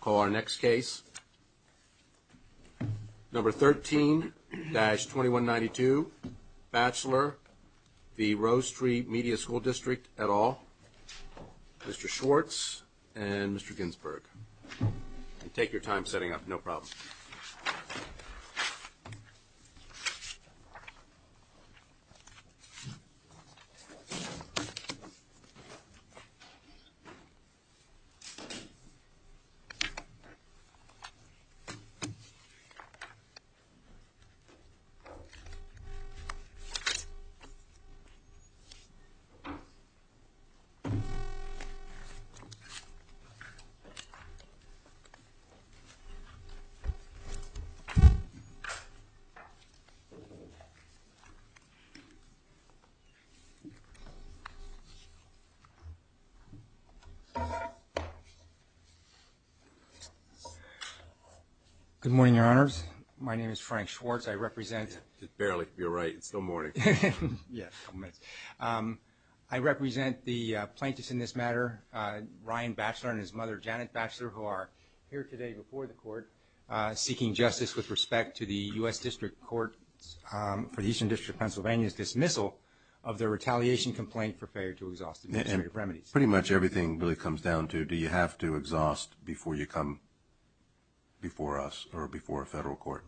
Call our next case. Number 13-2192, Batchelor v. Rose Tree Media School District, et al., Mr. Schwartz and Mr. Ginsburg. Take your time setting up. No problem. Good morning, Your Honors. My name is Frank Schwartz. I represent... Barely. You're right. It's still morning. Yes, a couple minutes. I represent the plaintiffs in this matter, Ryan Batchelor and his mother, Janet Batchelor, who are here today before the court seeking justice with respect to the U.S. District Court for the Eastern District of Pennsylvania's dismissal of their retaliation complaint for failure to exhaust administrative remedies. Pretty much everything really comes down to, do you have to exhaust before you come before us or before a federal court?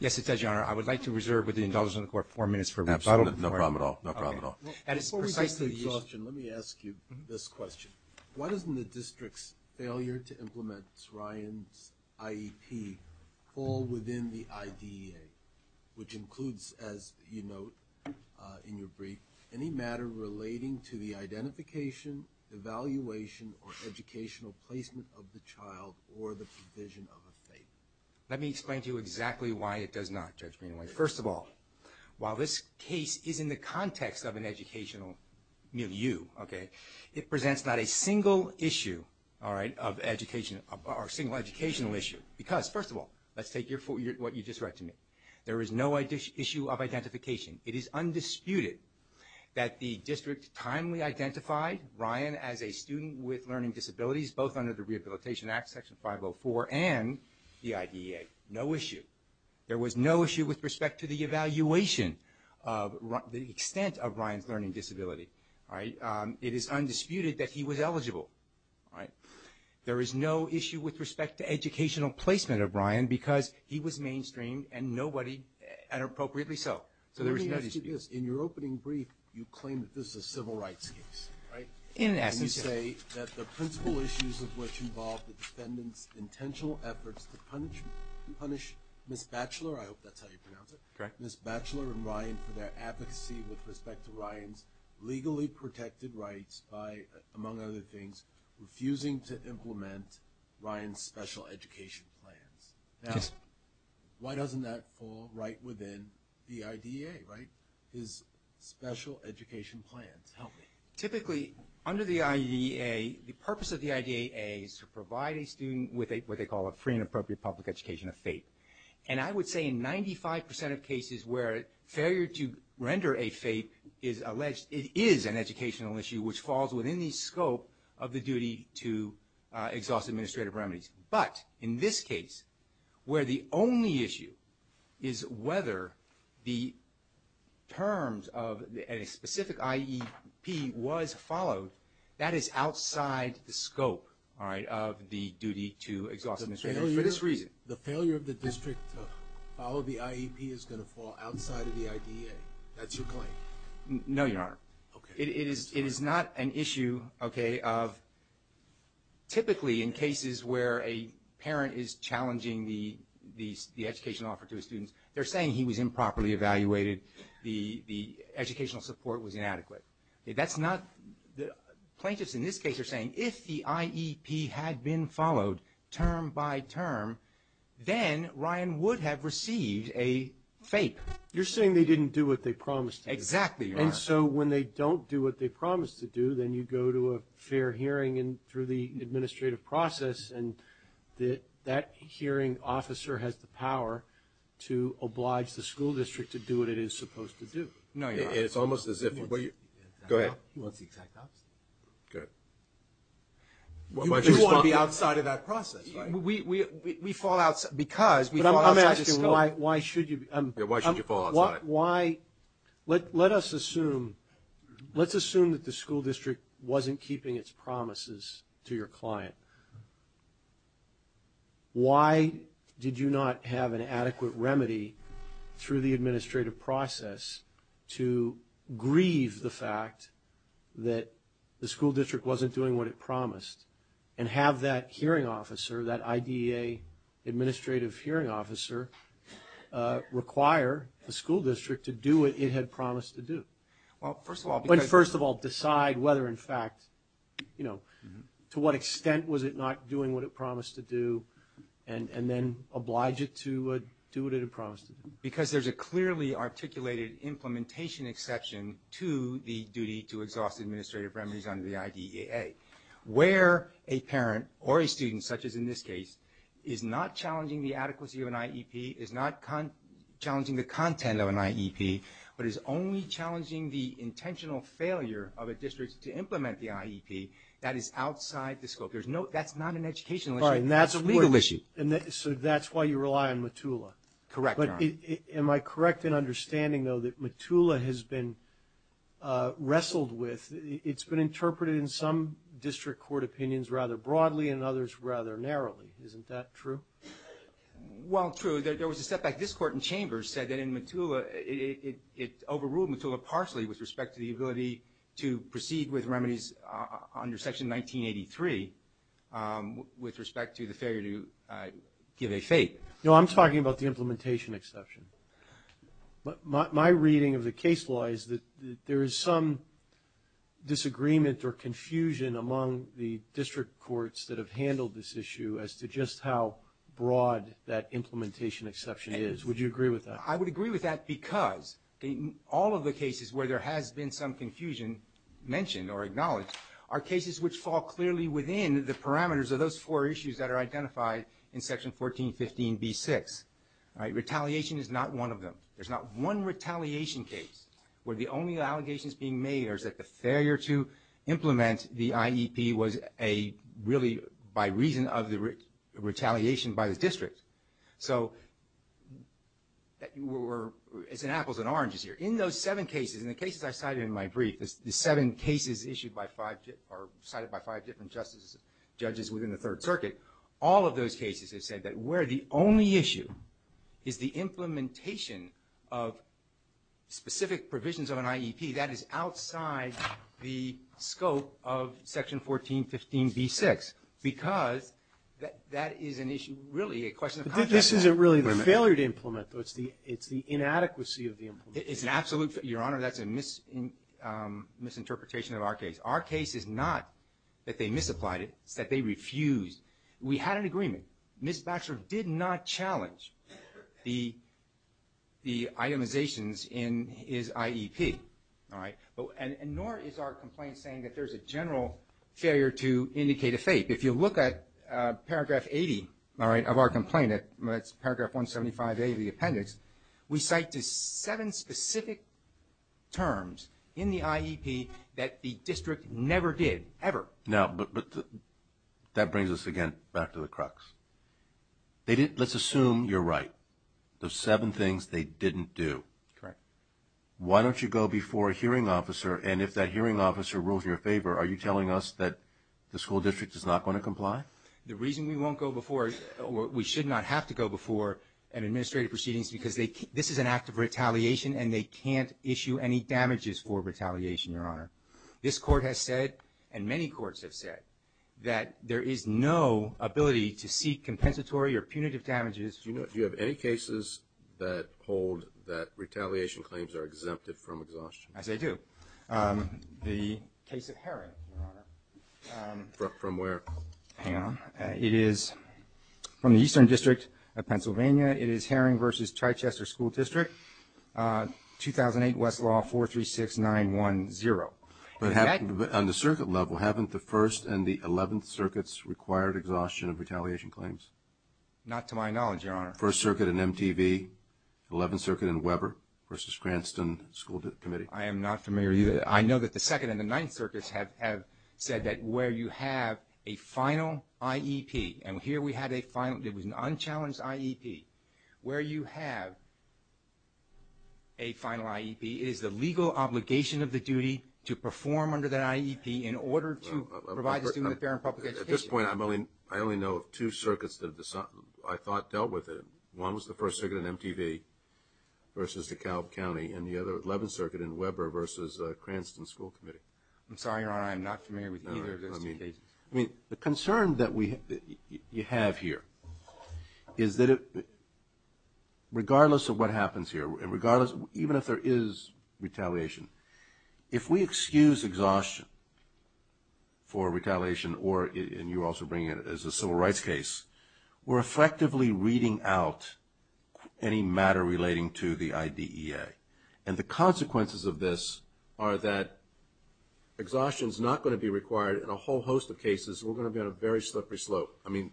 Yes, it does, Your Honor. I would like to reserve with the indulgence of the court four minutes for... No problem at all. No problem at all. Before we get to the exhaustion, let me ask you this question. Why doesn't the district's failure to implement Ryan's IEP fall within the IDEA, which includes, as you note in your brief, any matter relating to the identification, evaluation, or educational placement of the child or the provision of a fate? Let me explain to you exactly why it does not, Judge Greenaway. First of all, while this case is in the context of an educational milieu, okay, it presents not a single issue, all right, of education or a single educational issue because, first of all, let's take what you just read to me. There is no issue of identification. It is undisputed that the district timely identified Ryan as a student with learning disabilities, both under the Rehabilitation Act, Section 504, and the IDEA. No issue. There was no issue with respect to the evaluation of the extent of Ryan's learning disability. All right? It is undisputed that he was eligible. All right? There is no issue with respect to educational placement of Ryan because he was mainstream and nobody, and appropriately so. So there was no dispute. Let me ask you this. In your opening brief, you claim that this is a civil rights case, right? In essence, yes. You say that the principal issues of which involve the defendant's intentional efforts to punish Ms. Batchelor, I hope that's how you pronounce it. Correct. Ms. Batchelor and Ryan for their advocacy with respect to Ryan's legally protected rights by, among other things, refusing to implement Ryan's special education plans. Yes. Now, why doesn't that fall right within the IDEA, right, his special education plans? Typically, under the IDEA, the purpose of the IDEA is to provide a student with what they call a free and appropriate public education, a FAPE. And I would say in 95% of cases where failure to render a FAPE is alleged, it is an educational issue which falls within the scope of the duty to exhaust administrative remedies. But in this case, where the only issue is whether the terms of a specific IEP was followed, that is outside the scope, all right, of the duty to exhaust administrative remedies for this reason. The failure of the district to follow the IEP is going to fall outside of the IDEA. That's your claim? No, Your Honor. Okay. It is not an issue, okay, of typically in cases where a parent is challenging the educational offer to a student, they're saying he was improperly evaluated, the educational support was inadequate. That's not – plaintiffs in this case are saying if the IEP had been followed term by term, then Ryan would have received a FAPE. You're saying they didn't do what they promised to do. Exactly, Your Honor. And so when they don't do what they promised to do, then you go to a fair hearing through the administrative process, and that hearing officer has the power to oblige the school district to do what it is supposed to do. No, Your Honor. It's almost as if – go ahead. He wants the exact opposite. Go ahead. You want to be outside of that process, right? We fall outside – because we fall outside the scope. But I'm asking why should you – Yeah, why should you fall outside? Why – let us assume – let's assume that the school district wasn't keeping its promises to your client. Why did you not have an adequate remedy through the administrative process to grieve the fact that the school district wasn't doing what it promised and have that hearing officer, that IDEA administrative hearing officer, require the school district to do what it had promised to do? Well, first of all – But first of all, decide whether in fact, you know, to what extent was it not doing what it promised to do and then oblige it to do what it had promised to do. articulated implementation exception to the duty to exhaust administrative remedies under the IDEA. Where a parent or a student, such as in this case, is not challenging the adequacy of an IEP, is not challenging the content of an IEP, but is only challenging the intentional failure of a district to implement the IEP, that is outside the scope. There's no – that's not an educational issue. That's a legal issue. So that's why you rely on MTULA. Correct, Your Honor. Am I correct in understanding, though, that MTULA has been wrestled with? It's been interpreted in some district court opinions rather broadly and others rather narrowly. Isn't that true? Well, true. There was a setback. This Court in Chambers said that in MTULA it overruled MTULA partially with respect to the ability to proceed with remedies under Section 1983 with respect to the failure to give a fate. No, I'm talking about the implementation exception. My reading of the case law is that there is some disagreement or confusion among the district courts that have handled this issue as to just how broad that implementation exception is. Would you agree with that? I would agree with that because all of the cases where there has been some confusion mentioned or acknowledged are cases which fall clearly within the parameters of those four issues that are identified in Section 1415b6. Retaliation is not one of them. There's not one retaliation case where the only allegations being made are that the failure to implement the IEP was a – really by reason of the retaliation by the district. So we're – it's an apples and oranges here. In those seven cases, in the cases I cited in my brief, the seven cases issued by five – or cited by five different judges within the Third Circuit, all of those cases have said that where the only issue is the implementation of specific provisions of an IEP, that is outside the scope of Section 1415b6 because that is an issue – really a question of context. This isn't really the failure to implement, though. It's the inadequacy of the implementation. It's an absolute – Your Honor, that's a misinterpretation of our case. Our case is not that they misapplied it. It's that they refused. We had an agreement. Ms. Baxter did not challenge the itemizations in his IEP, all right? And nor is our complaint saying that there's a general failure to indicate a fate. If you look at paragraph 80, all right, of our complaint, that's paragraph 175a of the appendix, we cite the seven specific terms in the IEP that the district never did, ever. Now, but that brings us again back to the crux. They didn't – let's assume you're right. Those seven things they didn't do. Correct. Why don't you go before a hearing officer, and if that hearing officer rules you a favor, are you telling us that the school district is not going to comply? The reason we won't go before – or we should not have to go before an administrative proceedings because this is an act of retaliation, and they can't issue any damages for retaliation, Your Honor. This Court has said, and many courts have said, that there is no ability to seek compensatory or punitive damages. Do you have any cases that hold that retaliation claims are exempted from exhaustion? Yes, I do. The case of Herring, Your Honor. From where? Hang on. It is from the Eastern District of Pennsylvania. It is Herring v. Chichester School District, 2008 Westlaw 436910. But on the circuit level, haven't the First and the Eleventh Circuits required exhaustion of retaliation claims? Not to my knowledge, Your Honor. First Circuit in MTV, Eleventh Circuit in Weber v. Cranston School Committee. I am not familiar either. I know that the Second and the Ninth Circuits have said that where you have a final IEP, and here we had a final – it was an unchallenged IEP. Where you have a final IEP, it is the legal obligation of the duty to perform under that IEP in order to provide the student with fair and public education. At this point, I only know of two circuits that I thought dealt with it. One was the First Circuit in MTV v. DeKalb County and the other was the Eleventh Circuit in Weber v. Cranston School Committee. I am sorry, Your Honor. I am not familiar with either of those two cases. The concern that you have here is that regardless of what happens here, even if there is retaliation, if we excuse exhaustion for retaliation, and you also bring it as a civil rights case, we are effectively reading out any matter relating to the IDEA. And the consequences of this are that exhaustion is not going to be required. In a whole host of cases, we are going to be on a very slippery slope. I mean,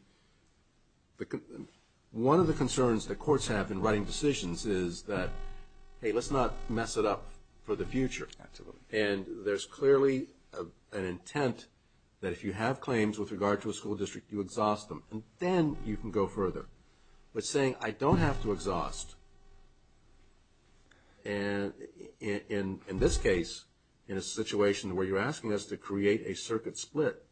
one of the concerns that courts have in writing decisions is that, hey, let's not mess it up for the future. And there is clearly an intent that if you have claims with regard to a school district, you exhaust them, and then you can go further. But saying, I don't have to exhaust, in this case, in a situation where you are asking us to create a circuit split,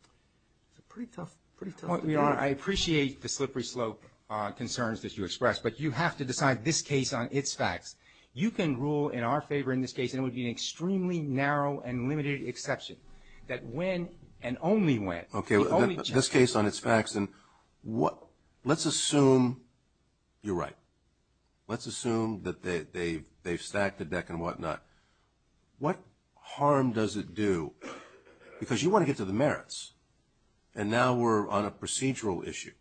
it's a pretty tough, pretty tough... Your Honor, I appreciate the slippery slope concerns that you expressed, but you have to decide this case on its facts. You can rule in our favor in this case, and it would be an extremely narrow and limited exception, that when and only when... Okay, this case on its facts, and let's assume you're right. Let's assume that they've stacked the deck and whatnot. What harm does it do? Because you want to get to the merits, and now we're on a procedural issue.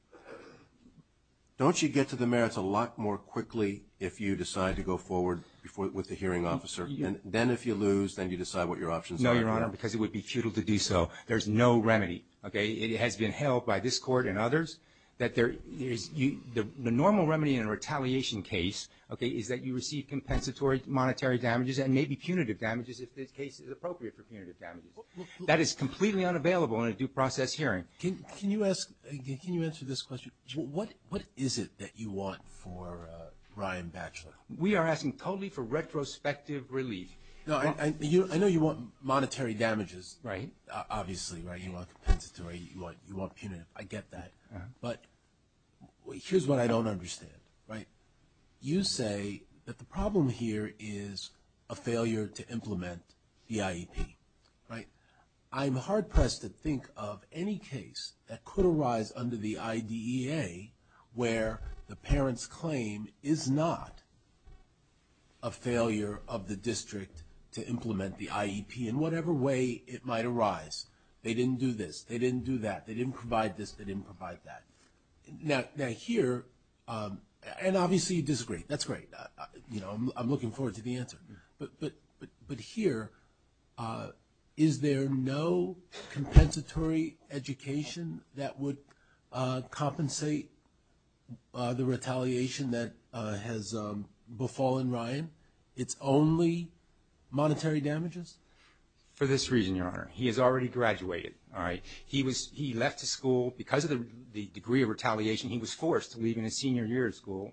Don't you get to the merits a lot more quickly if you decide to go forward with the hearing officer? Then if you lose, then you decide what your options are. No, Your Honor, because it would be futile to do so. There's no remedy. It has been held by this Court and others that the normal remedy in a retaliation case is that you receive compensatory monetary damages and maybe punitive damages if the case is appropriate for punitive damages. That is completely unavailable in a due process hearing. Can you answer this question? What is it that you want for Ryan Batchelor? We are asking totally for retrospective relief. I know you want monetary damages, obviously, right? You want compensatory, you want punitive. I get that. But here's what I don't understand. You say that the problem here is a failure to implement the IEP, right? I'm hard-pressed to think of any case that could arise under the IDEA where the parent's claim is not a failure of the district to implement the IEP in whatever way it might arise. They didn't do this. They didn't do that. They didn't provide this. They didn't provide that. Now here, and obviously you disagree. That's great. I'm looking forward to the answer. But here, is there no compensatory education that would compensate the retaliation that has befallen Ryan? It's only monetary damages? For this reason, Your Honor, he has already graduated. He left school. Because of the degree of retaliation, he was forced to leave in his senior year of school,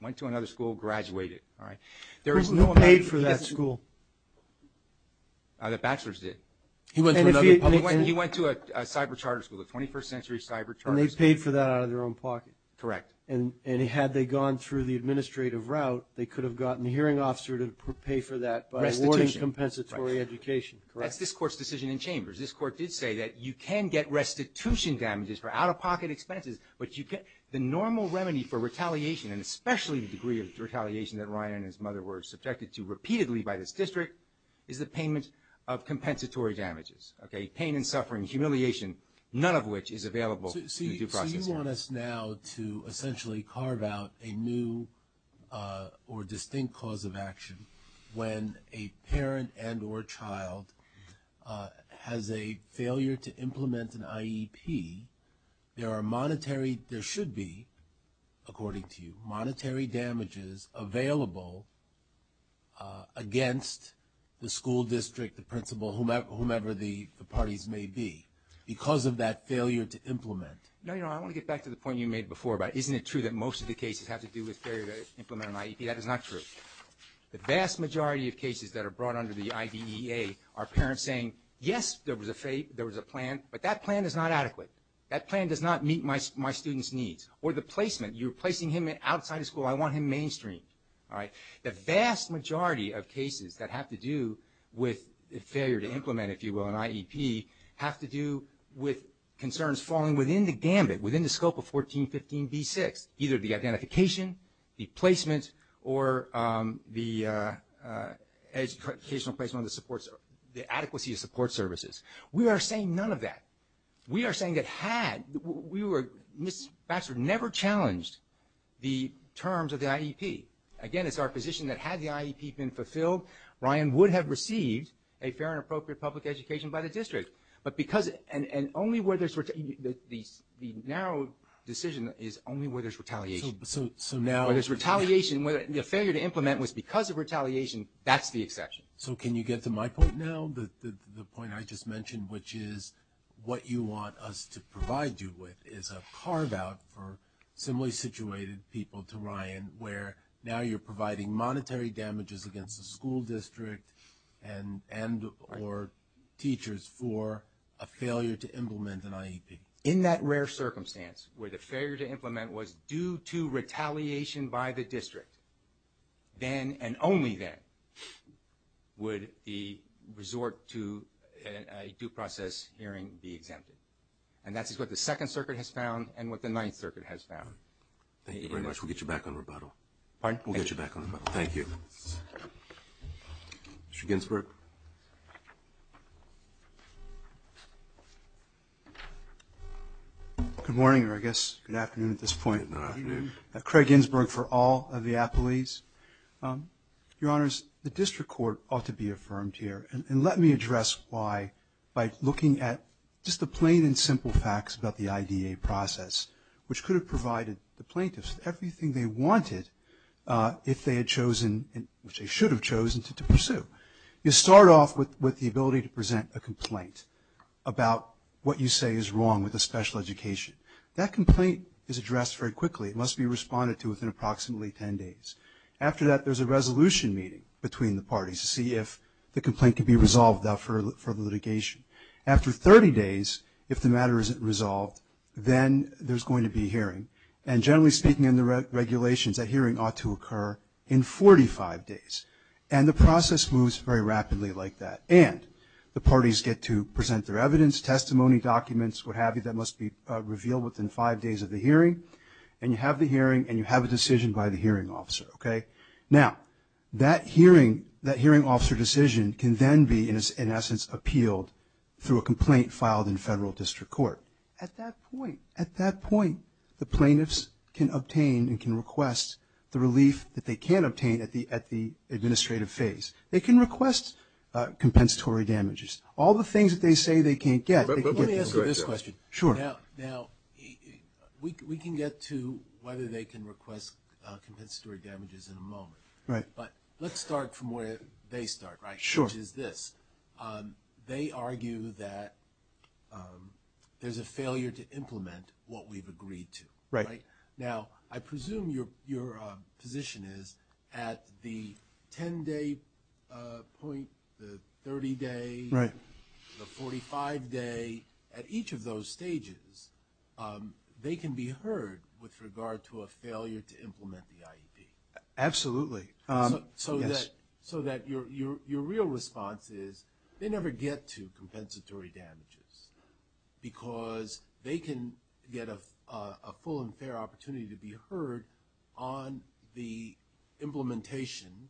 went to another school, graduated. Who paid for that school? The bachelors did. He went to another public school? He went to a cyber charter school, a 21st century cyber charter school. And they paid for that out of their own pocket? Correct. And had they gone through the administrative route, they could have gotten a hearing officer to pay for that by awarding compensatory education. That's this Court's decision in Chambers. This Court did say that you can get restitution damages for out-of-pocket expenses, but the normal remedy for retaliation, and especially the degree of retaliation that Ryan and his mother were subjected to repeatedly by this district, is the payment of compensatory damages. Okay? Pain and suffering, humiliation, none of which is available in the due process. So you want us now to essentially carve out a new or distinct cause of action when a parent and or child has a failure to implement an IEP, there are monetary, there should be, according to you, monetary damages available against the school district, the principal, whomever the parties may be because of that failure to implement. No, Your Honor, I want to get back to the point you made before about isn't it true that most of the cases have to do with failure to implement an IEP? That is not true. The vast majority of cases that are brought under the IDEA are parents saying, yes, there was a plan, but that plan is not adequate. That plan does not meet my students' needs. Or the placement, you're placing him outside of school, I want him mainstream. All right? The vast majority of cases that have to do with failure to implement, if you will, an IEP, have to do with concerns falling within the gambit, within the scope of 1415B6, either the identification, the placement, or the educational placement of the support, the adequacy of support services. We are saying none of that. We are saying that had, we were, Ms. Baxter never challenged the terms of the IEP. Again, it's our position that had the IEP been fulfilled, Ryan would have received a fair and appropriate public education by the district. But because, and only where there's, the narrow decision is only where there's retaliation. So now. Where there's retaliation, where the failure to implement was because of retaliation, that's the exception. So can you get to my point now, the point I just mentioned, which is what you want us to provide you with is a carve-out for similarly situated people to Ryan, where now you're providing monetary damages against the school district and or teachers for a failure to implement an IEP. In that rare circumstance where the failure to implement was due to retaliation by the district, then and only then would the resort to a due process hearing be exempted. And that's what the Second Circuit has found and what the Ninth Circuit has found. Thank you very much. We'll get you back on rebuttal. We'll get you back on rebuttal. Thank you. Mr. Ginsburg. Good morning, or I guess good afternoon at this point. Good afternoon. Craig Ginsburg for all of the appellees. Your Honors, the district court ought to be affirmed here, and let me address why by looking at just the plain and simple facts about the IDA process, which could have provided the plaintiffs everything they wanted if they had chosen, which they should have chosen to pursue. You start off with the ability to present a complaint about what you say is wrong with a special education. That complaint is addressed very quickly. It must be responded to within approximately ten days. After that, there's a resolution meeting between the parties to see if the complaint can be resolved for litigation. After 30 days, if the matter isn't resolved, then there's going to be hearing. And generally speaking in the regulations, that hearing ought to occur in 45 days. And the process moves very rapidly like that. And the parties get to present their evidence, testimony, documents, what have you, that must be revealed within five days of the hearing. And you have the hearing, and you have a decision by the hearing officer. Okay? Now, that hearing officer decision can then be, in essence, appealed through a complaint filed in federal district court. At that point, the plaintiffs can obtain and can request the relief that they can't obtain at the administrative phase. They can request compensatory damages. All the things that they say they can't get, they can get. Let me ask you this question. Sure. Now, we can get to whether they can request compensatory damages in a moment. Right. But let's start from where they start, right? Sure. Which is this. They argue that there's a failure to implement what we've agreed to. Right. Now, I presume your position is at the 10-day point, the 30-day, the 45-day, at each of those stages, they can be heard with regard to a failure to implement the IEP. Absolutely. So that your real response is they never get to compensatory damages because they can get a full and fair opportunity to be heard on the implementation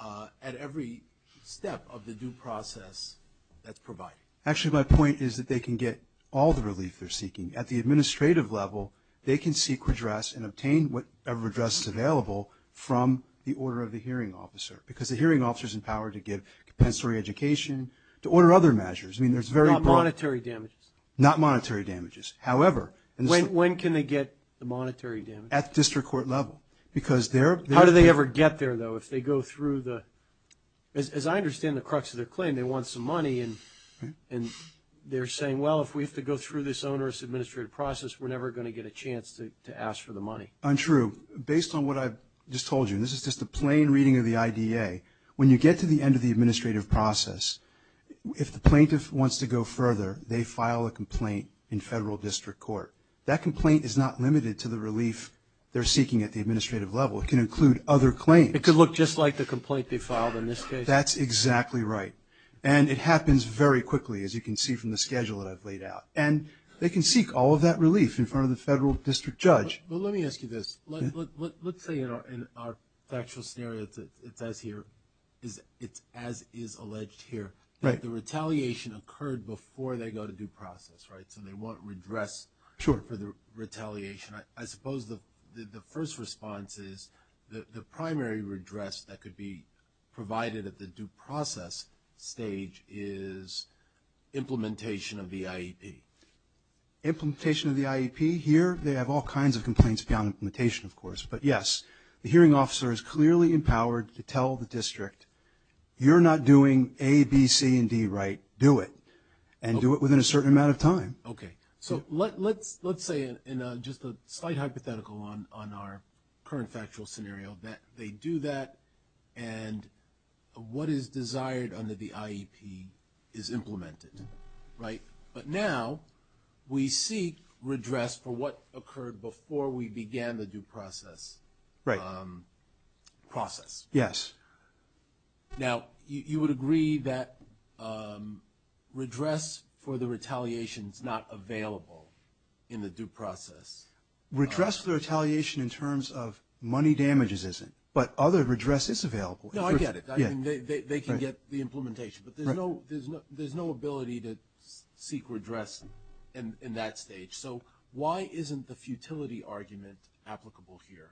at every step of the due process that's provided. Actually, my point is that they can get all the relief they're seeking. At the administrative level, they can seek redress and obtain whatever redress is available from the order of the hearing officer because the hearing officer is empowered to give compensatory education, to order other measures. I mean, there's very broad – Not monetary damages. Not monetary damages. However – When can they get the monetary damages? At district court level because they're – How do they ever get there, though? If they go through the – as I understand the crux of their claim, they want some money and they're saying, well, if we have to go through this onerous administrative process, we're never going to get a chance to ask for the money. Untrue. Based on what I've just told you, and this is just a plain reading of the IDA, when you get to the end of the administrative process, if the plaintiff wants to go further, they file a complaint in federal district court. That complaint is not limited to the relief they're seeking at the administrative level. It can include other claims. It could look just like the complaint they filed in this case. That's exactly right. And it happens very quickly, as you can see from the schedule that I've laid out. And they can seek all of that relief in front of the federal district judge. Well, let me ask you this. Let's say in our factual scenario, it says here, as is alleged here, that the retaliation occurred before they go to due process, right? So they want redress for the retaliation. I suppose the first response is the primary redress that could be provided at the due process stage is implementation of the IEP. Implementation of the IEP. Here they have all kinds of complaints beyond implementation, of course. But, yes, the hearing officer is clearly empowered to tell the district, you're not doing A, B, C, and D right. Do it. And do it within a certain amount of time. Okay. So let's say in just a slight hypothetical on our current factual scenario that they do that and what is desired under the IEP is implemented, right? But now we seek redress for what occurred before we began the due process. Right. Process. Yes. Now, you would agree that redress for the retaliation is not available in the due process. Redress for the retaliation in terms of money damages isn't, but other redress is available. No, I get it. They can get the implementation. But there's no ability to seek redress in that stage. So why isn't the futility argument applicable here?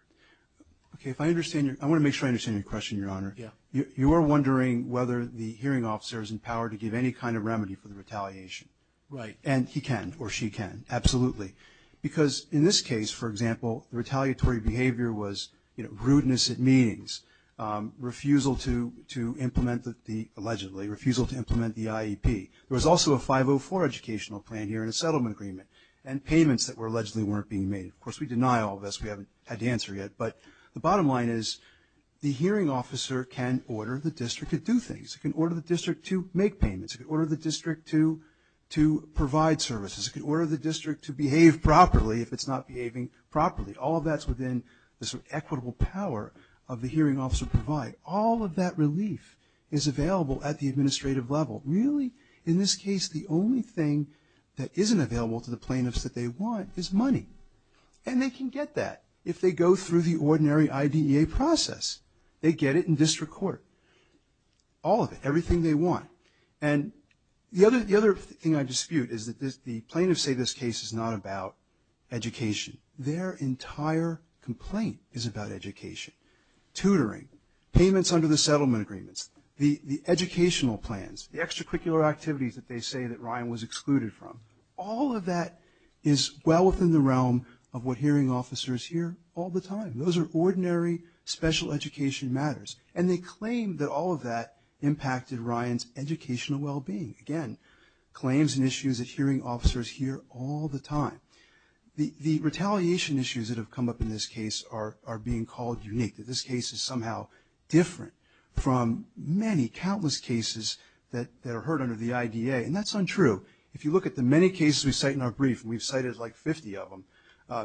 Okay. I want to make sure I understand your question, Your Honor. Yeah. You are wondering whether the hearing officer is empowered to give any kind of remedy for the retaliation. Right. And he can or she can. Absolutely. Because in this case, for example, the retaliatory behavior was rudeness at meetings, refusal to implement the allegedly, refusal to implement the IEP. There was also a 504 educational plan here and a settlement agreement and payments that were allegedly weren't being made. Of course, we deny all this. We haven't had the answer yet. But the bottom line is the hearing officer can order the district to do things. It can order the district to make payments. It can order the district to provide services. It can order the district to behave properly if it's not behaving properly. All of that's within the sort of equitable power of the hearing officer to provide. All of that relief is available at the administrative level. Really, in this case, the only thing that isn't available to the plaintiffs that they want is money. And they can get that if they go through the ordinary IDEA process. They get it in district court. All of it. Everything they want. And the other thing I dispute is that the plaintiffs say this case is not about education. Their entire complaint is about education. Tutoring. Payments under the settlement agreements. The educational plans. The extracurricular activities that they say that Ryan was excluded from. All of that is well within the realm of what hearing officers hear all the time. Those are ordinary special education matters. And they claim that all of that impacted Ryan's educational well-being. Again, claims and issues that hearing officers hear all the time. The retaliation issues that have come up in this case are being called unique. That this case is somehow different from many, countless cases that are heard under the IDEA. And that's untrue. If you look at the many cases we cite in our brief, and we've cited like 50 of them,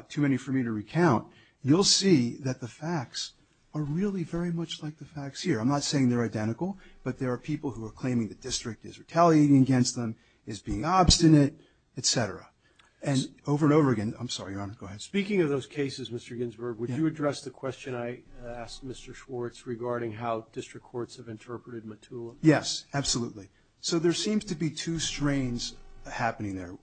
too many for me to recount, you'll see that the facts are really very much like the facts here. I'm not saying they're identical. But there are people who are claiming the district is retaliating against them, is being obstinate, et cetera. And over and over again. I'm sorry, Your Honor. Go ahead. Speaking of those cases, Mr. Ginsburg, would you address the question I asked Mr. Schwartz regarding how district courts have interpreted Mottula? Yes, absolutely. So there seems to be two strains happening there.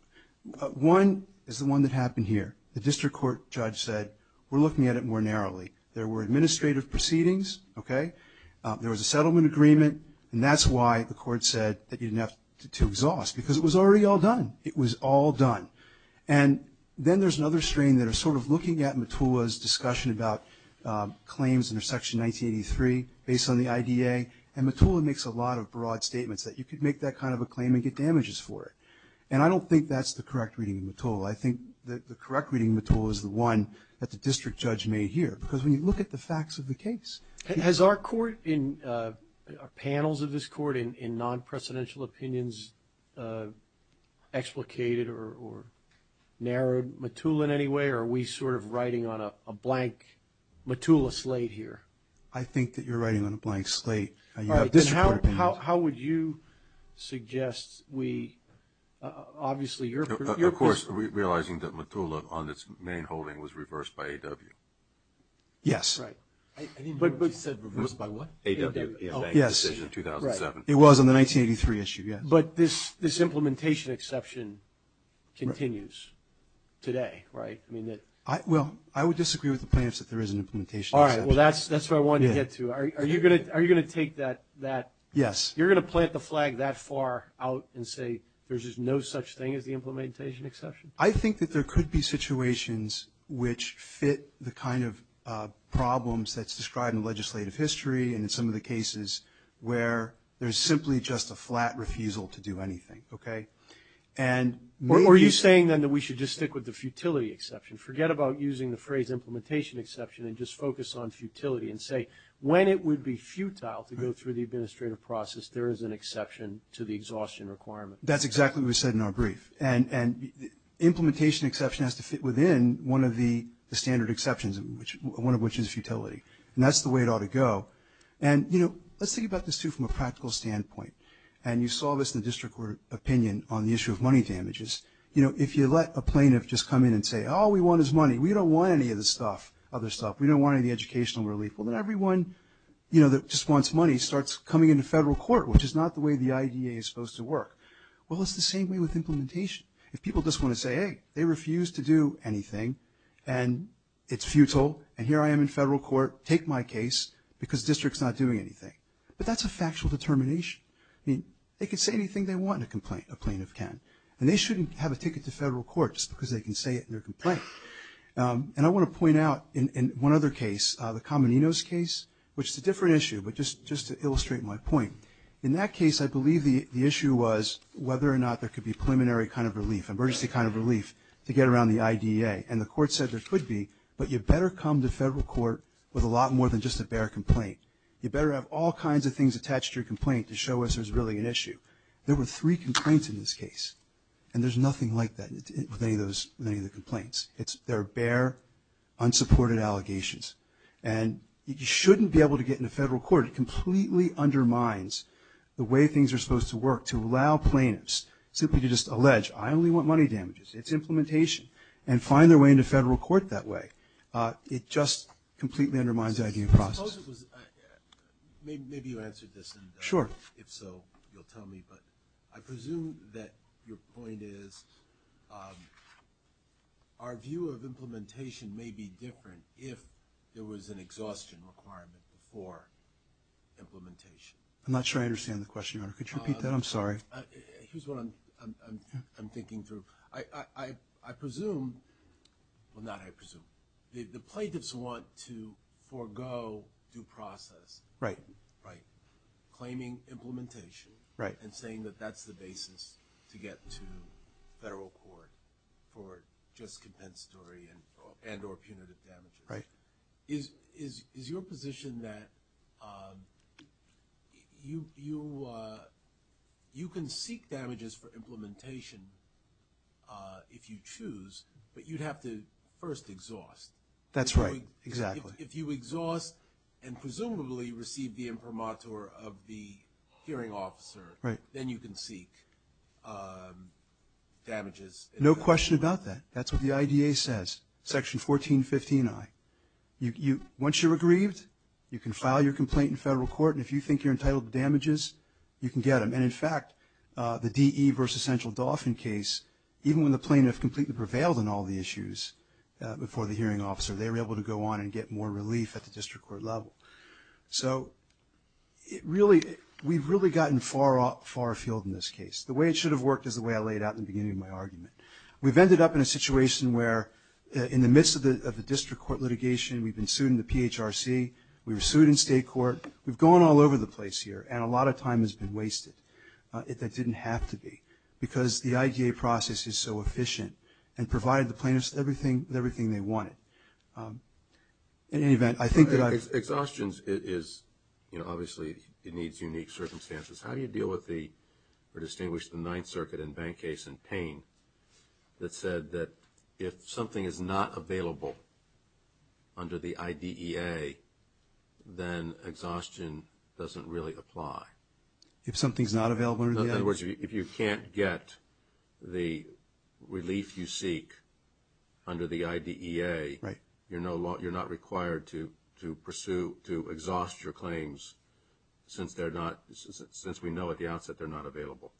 One is the one that happened here. The district court judge said, we're looking at it more narrowly. There were administrative proceedings. Okay? There was a settlement agreement. And that's why the court said that you didn't have to exhaust. Because it was already all done. It was all done. And then there's another strain that is sort of looking at Mottula's discussion about claims under Section 1983 based on the IDA. And Mottula makes a lot of broad statements that you could make that kind of a claim and get damages for it. And I don't think that's the correct reading of Mottula. I think the correct reading of Mottula is the one that the district judge made here. Because when you look at the facts of the case. Has our court in panels of this court in non-presidential opinions explicated or narrowed Mottula in any way? Or are we sort of writing on a blank Mottula slate here? I think that you're writing on a blank slate. All right. How would you suggest we – obviously you're – Of course, realizing that Mottula on its main holding was reversed by AW. Yes. That's right. I didn't know what you said. Reversed by what? AW. Yes. The decision of 2007. It was on the 1983 issue, yes. But this implementation exception continues today, right? Well, I would disagree with the plaintiffs that there is an implementation exception. All right. Well, that's where I wanted to get to. Are you going to take that – Yes. You're going to plant the flag that far out and say there's just no such thing as the implementation exception? I think that there could be situations which fit the kind of problems that's described in legislative history and in some of the cases where there's simply just a flat refusal to do anything. Okay? And maybe – Or are you saying then that we should just stick with the futility exception? Forget about using the phrase implementation exception and just focus on futility and say when it would be futile to go through the administrative process, there is an exception to the exhaustion requirement. That's exactly what was said in our brief. And implementation exception has to fit within one of the standard exceptions, one of which is futility. And that's the way it ought to go. And, you know, let's think about this, too, from a practical standpoint. And you saw this in the district court opinion on the issue of money damages. You know, if you let a plaintiff just come in and say, oh, we want his money. We don't want any of this stuff, other stuff. We don't want any of the educational relief. Well, then everyone, you know, that just wants money starts coming into federal court, which is not the way the IDA is supposed to work. Well, it's the same way with implementation. If people just want to say, hey, they refuse to do anything, and it's futile, and here I am in federal court, take my case because district's not doing anything. But that's a factual determination. I mean, they can say anything they want in a complaint, a plaintiff can. And they shouldn't have a ticket to federal court just because they can say it in their complaint. And I want to point out in one other case, the Comininos case, which is a different issue, but just to illustrate my point. In that case, I believe the issue was whether or not there could be preliminary kind of relief, emergency kind of relief to get around the IDA. And the court said there could be, but you better come to federal court with a lot more than just a bare complaint. You better have all kinds of things attached to your complaint to show us there's really an issue. There were three complaints in this case, and there's nothing like that with any of the complaints. They're bare, unsupported allegations. And you shouldn't be able to get into federal court. It completely undermines the way things are supposed to work to allow plaintiffs simply to just allege, I only want money damages. It's implementation. And find their way into federal court that way. It just completely undermines the IDA process. Maybe you answered this, and if so, you'll tell me. But I presume that your point is our view of implementation may be different if there was an exhaustion requirement for implementation. I'm not sure I understand the question, Your Honor. Could you repeat that? I'm sorry. Here's what I'm thinking through. I presume, well, not I presume. The plaintiffs want to forego due process. Right. Right. Claiming implementation. Right. And saying that that's the basis to get to federal court for just compensatory and or punitive damages. Right. Is your position that you can seek damages for implementation if you choose, but you'd have to first exhaust. That's right. Exactly. If you exhaust and presumably receive the imprimatur of the hearing officer, then you can seek damages. No question about that. That's what the IDA says, Section 1415I. Once you're aggrieved, you can file your complaint in federal court, and if you think you're entitled to damages, you can get them. And, in fact, the DE versus Central Dauphin case, even when the plaintiff completely prevailed on all the issues before the hearing officer, they were able to go on and get more relief at the district court level. So we've really gotten far afield in this case. The way it should have worked is the way I laid out in the beginning of my argument. We've ended up in a situation where in the midst of the district court litigation, we've been sued in the PHRC. We were sued in state court. We've gone all over the place here, and a lot of time has been wasted. It didn't have to be, because the IDA process is so efficient and provided the plaintiffs with everything they wanted. In any event, I think that I've – Exhaustions is, you know, obviously it needs unique circumstances. How do you deal with the – or distinguish the Ninth Circuit and bank case in Payne that said that if something is not available under the IDEA, then exhaustion doesn't really apply? If something's not available under the IDEA? In other words, if you can't get the relief you seek under the IDEA, you're not required to pursue, to exhaust your claims since they're not – since we know at the outset they're not available.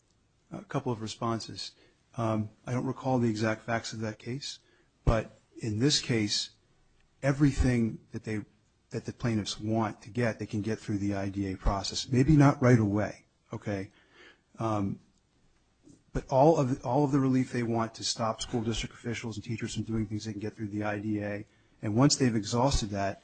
A couple of responses. I don't recall the exact facts of that case, but in this case, everything that the plaintiffs want to get, they can get through the IDEA process. Maybe not right away, okay? But all of the relief they want to stop school district officials and teachers from doing things they can get through the IDEA, and once they've exhausted that,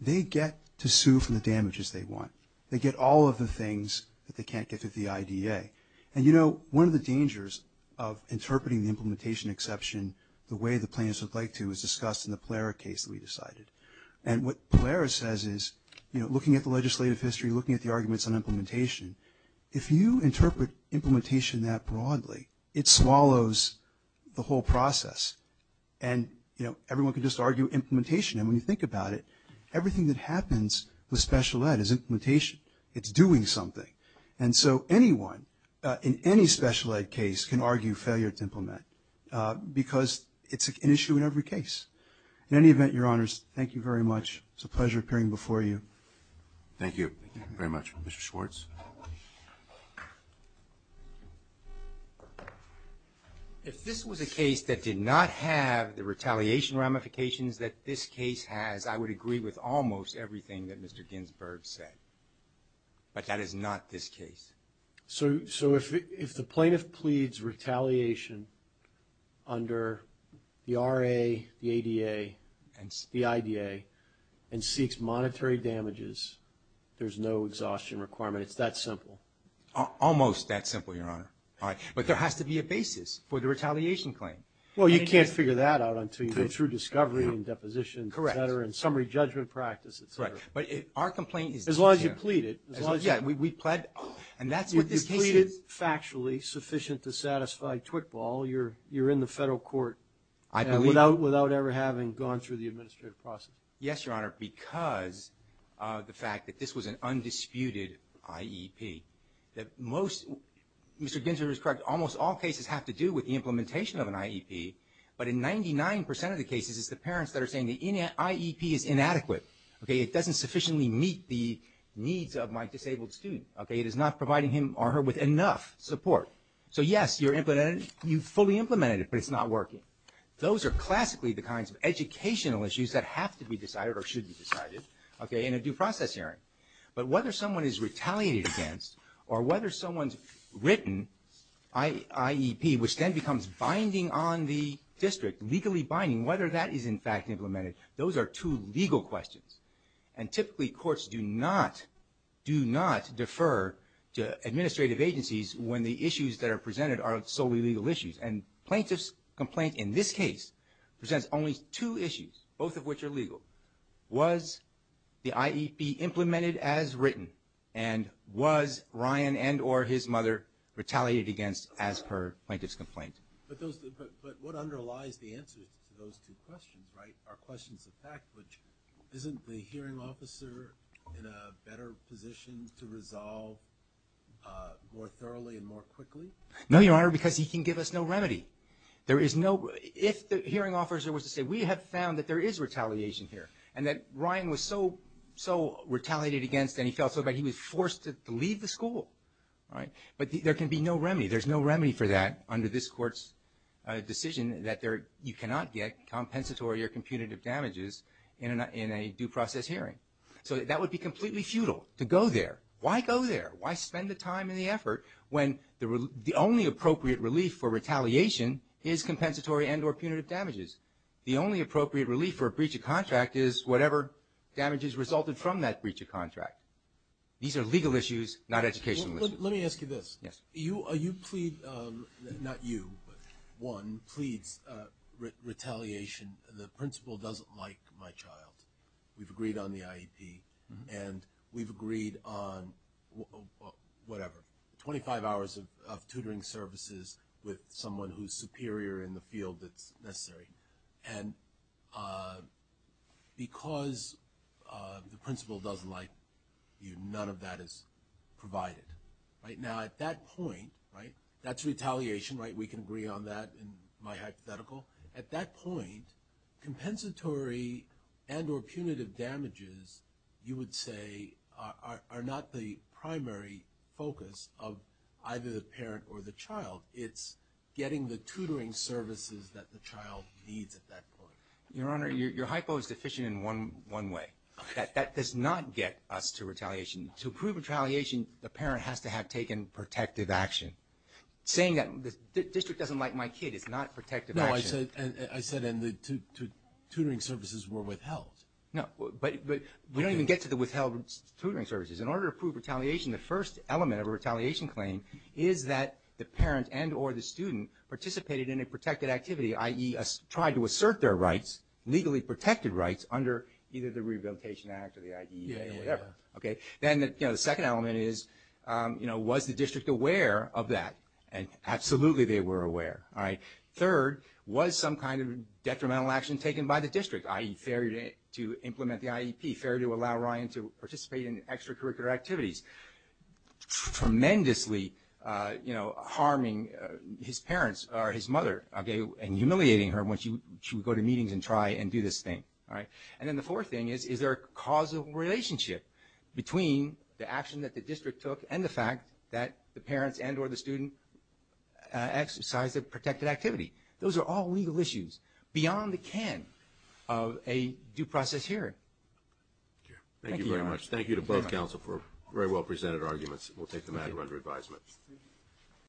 they get to sue for the damages they want. They get all of the things that they can't get through the IDEA. And, you know, one of the dangers of interpreting the implementation exception the way the plaintiffs would like to is discussed in the Pallera case that we decided. And what Pallera says is, you know, looking at the legislative history, looking at the arguments on implementation, if you interpret implementation that broadly, it swallows the whole process. And, you know, everyone can just argue implementation, and when you think about it, everything that happens with special ed is implementation. It's doing something. And so anyone in any special ed case can argue failure to implement because it's an issue in every case. In any event, Your Honors, thank you very much. It's a pleasure appearing before you. Thank you very much. Mr. Schwartz? If this was a case that did not have the retaliation ramifications that this case has, I would agree with almost everything that Mr. Ginsburg said. But that is not this case. So if the plaintiff pleads retaliation under the RA, the ADA, the IDEA, and seeks monetary damages, there's no exhaustion requirement. It's that simple. Almost that simple, Your Honor. But there has to be a basis for the retaliation claim. Well, you can't figure that out until you go through discovery and deposition, et cetera, and summary judgment practice, et cetera. Right. But our complaint is this here. As long as you plead it. Yeah, we pled. And that's what this case is. If you pleaded factually sufficient to satisfy twitball, you're in the federal court. I believe. Without ever having gone through the administrative process. Yes, Your Honor, because of the fact that this was an undisputed IEP. Mr. Ginsburg is correct. Almost all cases have to do with the implementation of an IEP. But in 99% of the cases, it's the parents that are saying the IEP is inadequate. It doesn't sufficiently meet the needs of my disabled student. It is not providing him or her with enough support. So, yes, you fully implemented it, but it's not working. Those are classically the kinds of educational issues that have to be decided or should be decided in a due process hearing. But whether someone is retaliated against or whether someone's written IEP, which then becomes binding on the district, legally binding, whether that is in fact implemented, those are two legal questions. And typically courts do not defer to administrative agencies when the issues that are presented are solely legal issues. And plaintiff's complaint in this case presents only two issues, both of which are legal. Was the IEP implemented as written? And was Ryan and or his mother retaliated against as per plaintiff's complaint? But what underlies the answer to those two questions, right, are questions of fact, which isn't the hearing officer in a better position to resolve more thoroughly and more quickly? No, Your Honor, because he can give us no remedy. If the hearing officer was to say, we have found that there is retaliation here and that Ryan was so retaliated against and he felt so bad he was forced to leave the school. But there can be no remedy. There's no remedy for that under this Court's decision that you cannot get compensatory or punitive damages in a due process hearing. So that would be completely futile to go there. Why go there? Why spend the time and the effort when the only appropriate relief for retaliation is compensatory and or punitive damages? The only appropriate relief for a breach of contract is whatever damages resulted from that breach of contract. These are legal issues, not educational issues. Let me ask you this. Yes. You plead, not you, but one pleads retaliation. The principal doesn't like my child. We've agreed on the IEP and we've agreed on whatever, 25 hours of tutoring services with someone who's superior in the field that's necessary. And because the principal doesn't like you, none of that is provided. Now, at that point, that's retaliation. We can agree on that in my hypothetical. At that point, compensatory and or punitive damages, you would say, are not the primary focus of either the parent or the child. It's getting the tutoring services that the child needs at that point. Your Honor, your hypo is deficient in one way. That does not get us to retaliation. To prove retaliation, the parent has to have taken protective action. Saying that the district doesn't like my kid is not protective action. No, I said the tutoring services were withheld. No, but we don't even get to the withheld tutoring services. In order to prove retaliation, the first element of a retaliation claim is that the parent and or the student participated in a protected activity, i.e., tried to assert their rights, legally protected rights, under either the Rehabilitation Act or the IDEA or whatever. Then the second element is, was the district aware of that? Absolutely they were aware. Third, was some kind of detrimental action taken by the district, i.e., failure to implement the IEP, failure to allow Ryan to participate in extracurricular activities, tremendously harming his parents or his mother and humiliating her when she would go to meetings and try and do this thing. Then the fourth thing is, is there a causal relationship between the action that the district took and the fact that the parents and or the student exercised a protected activity? Those are all legal issues beyond the can of a due process hearing. Thank you very much. Thank you to both counsel for very well presented arguments. We'll take them out of under advisement.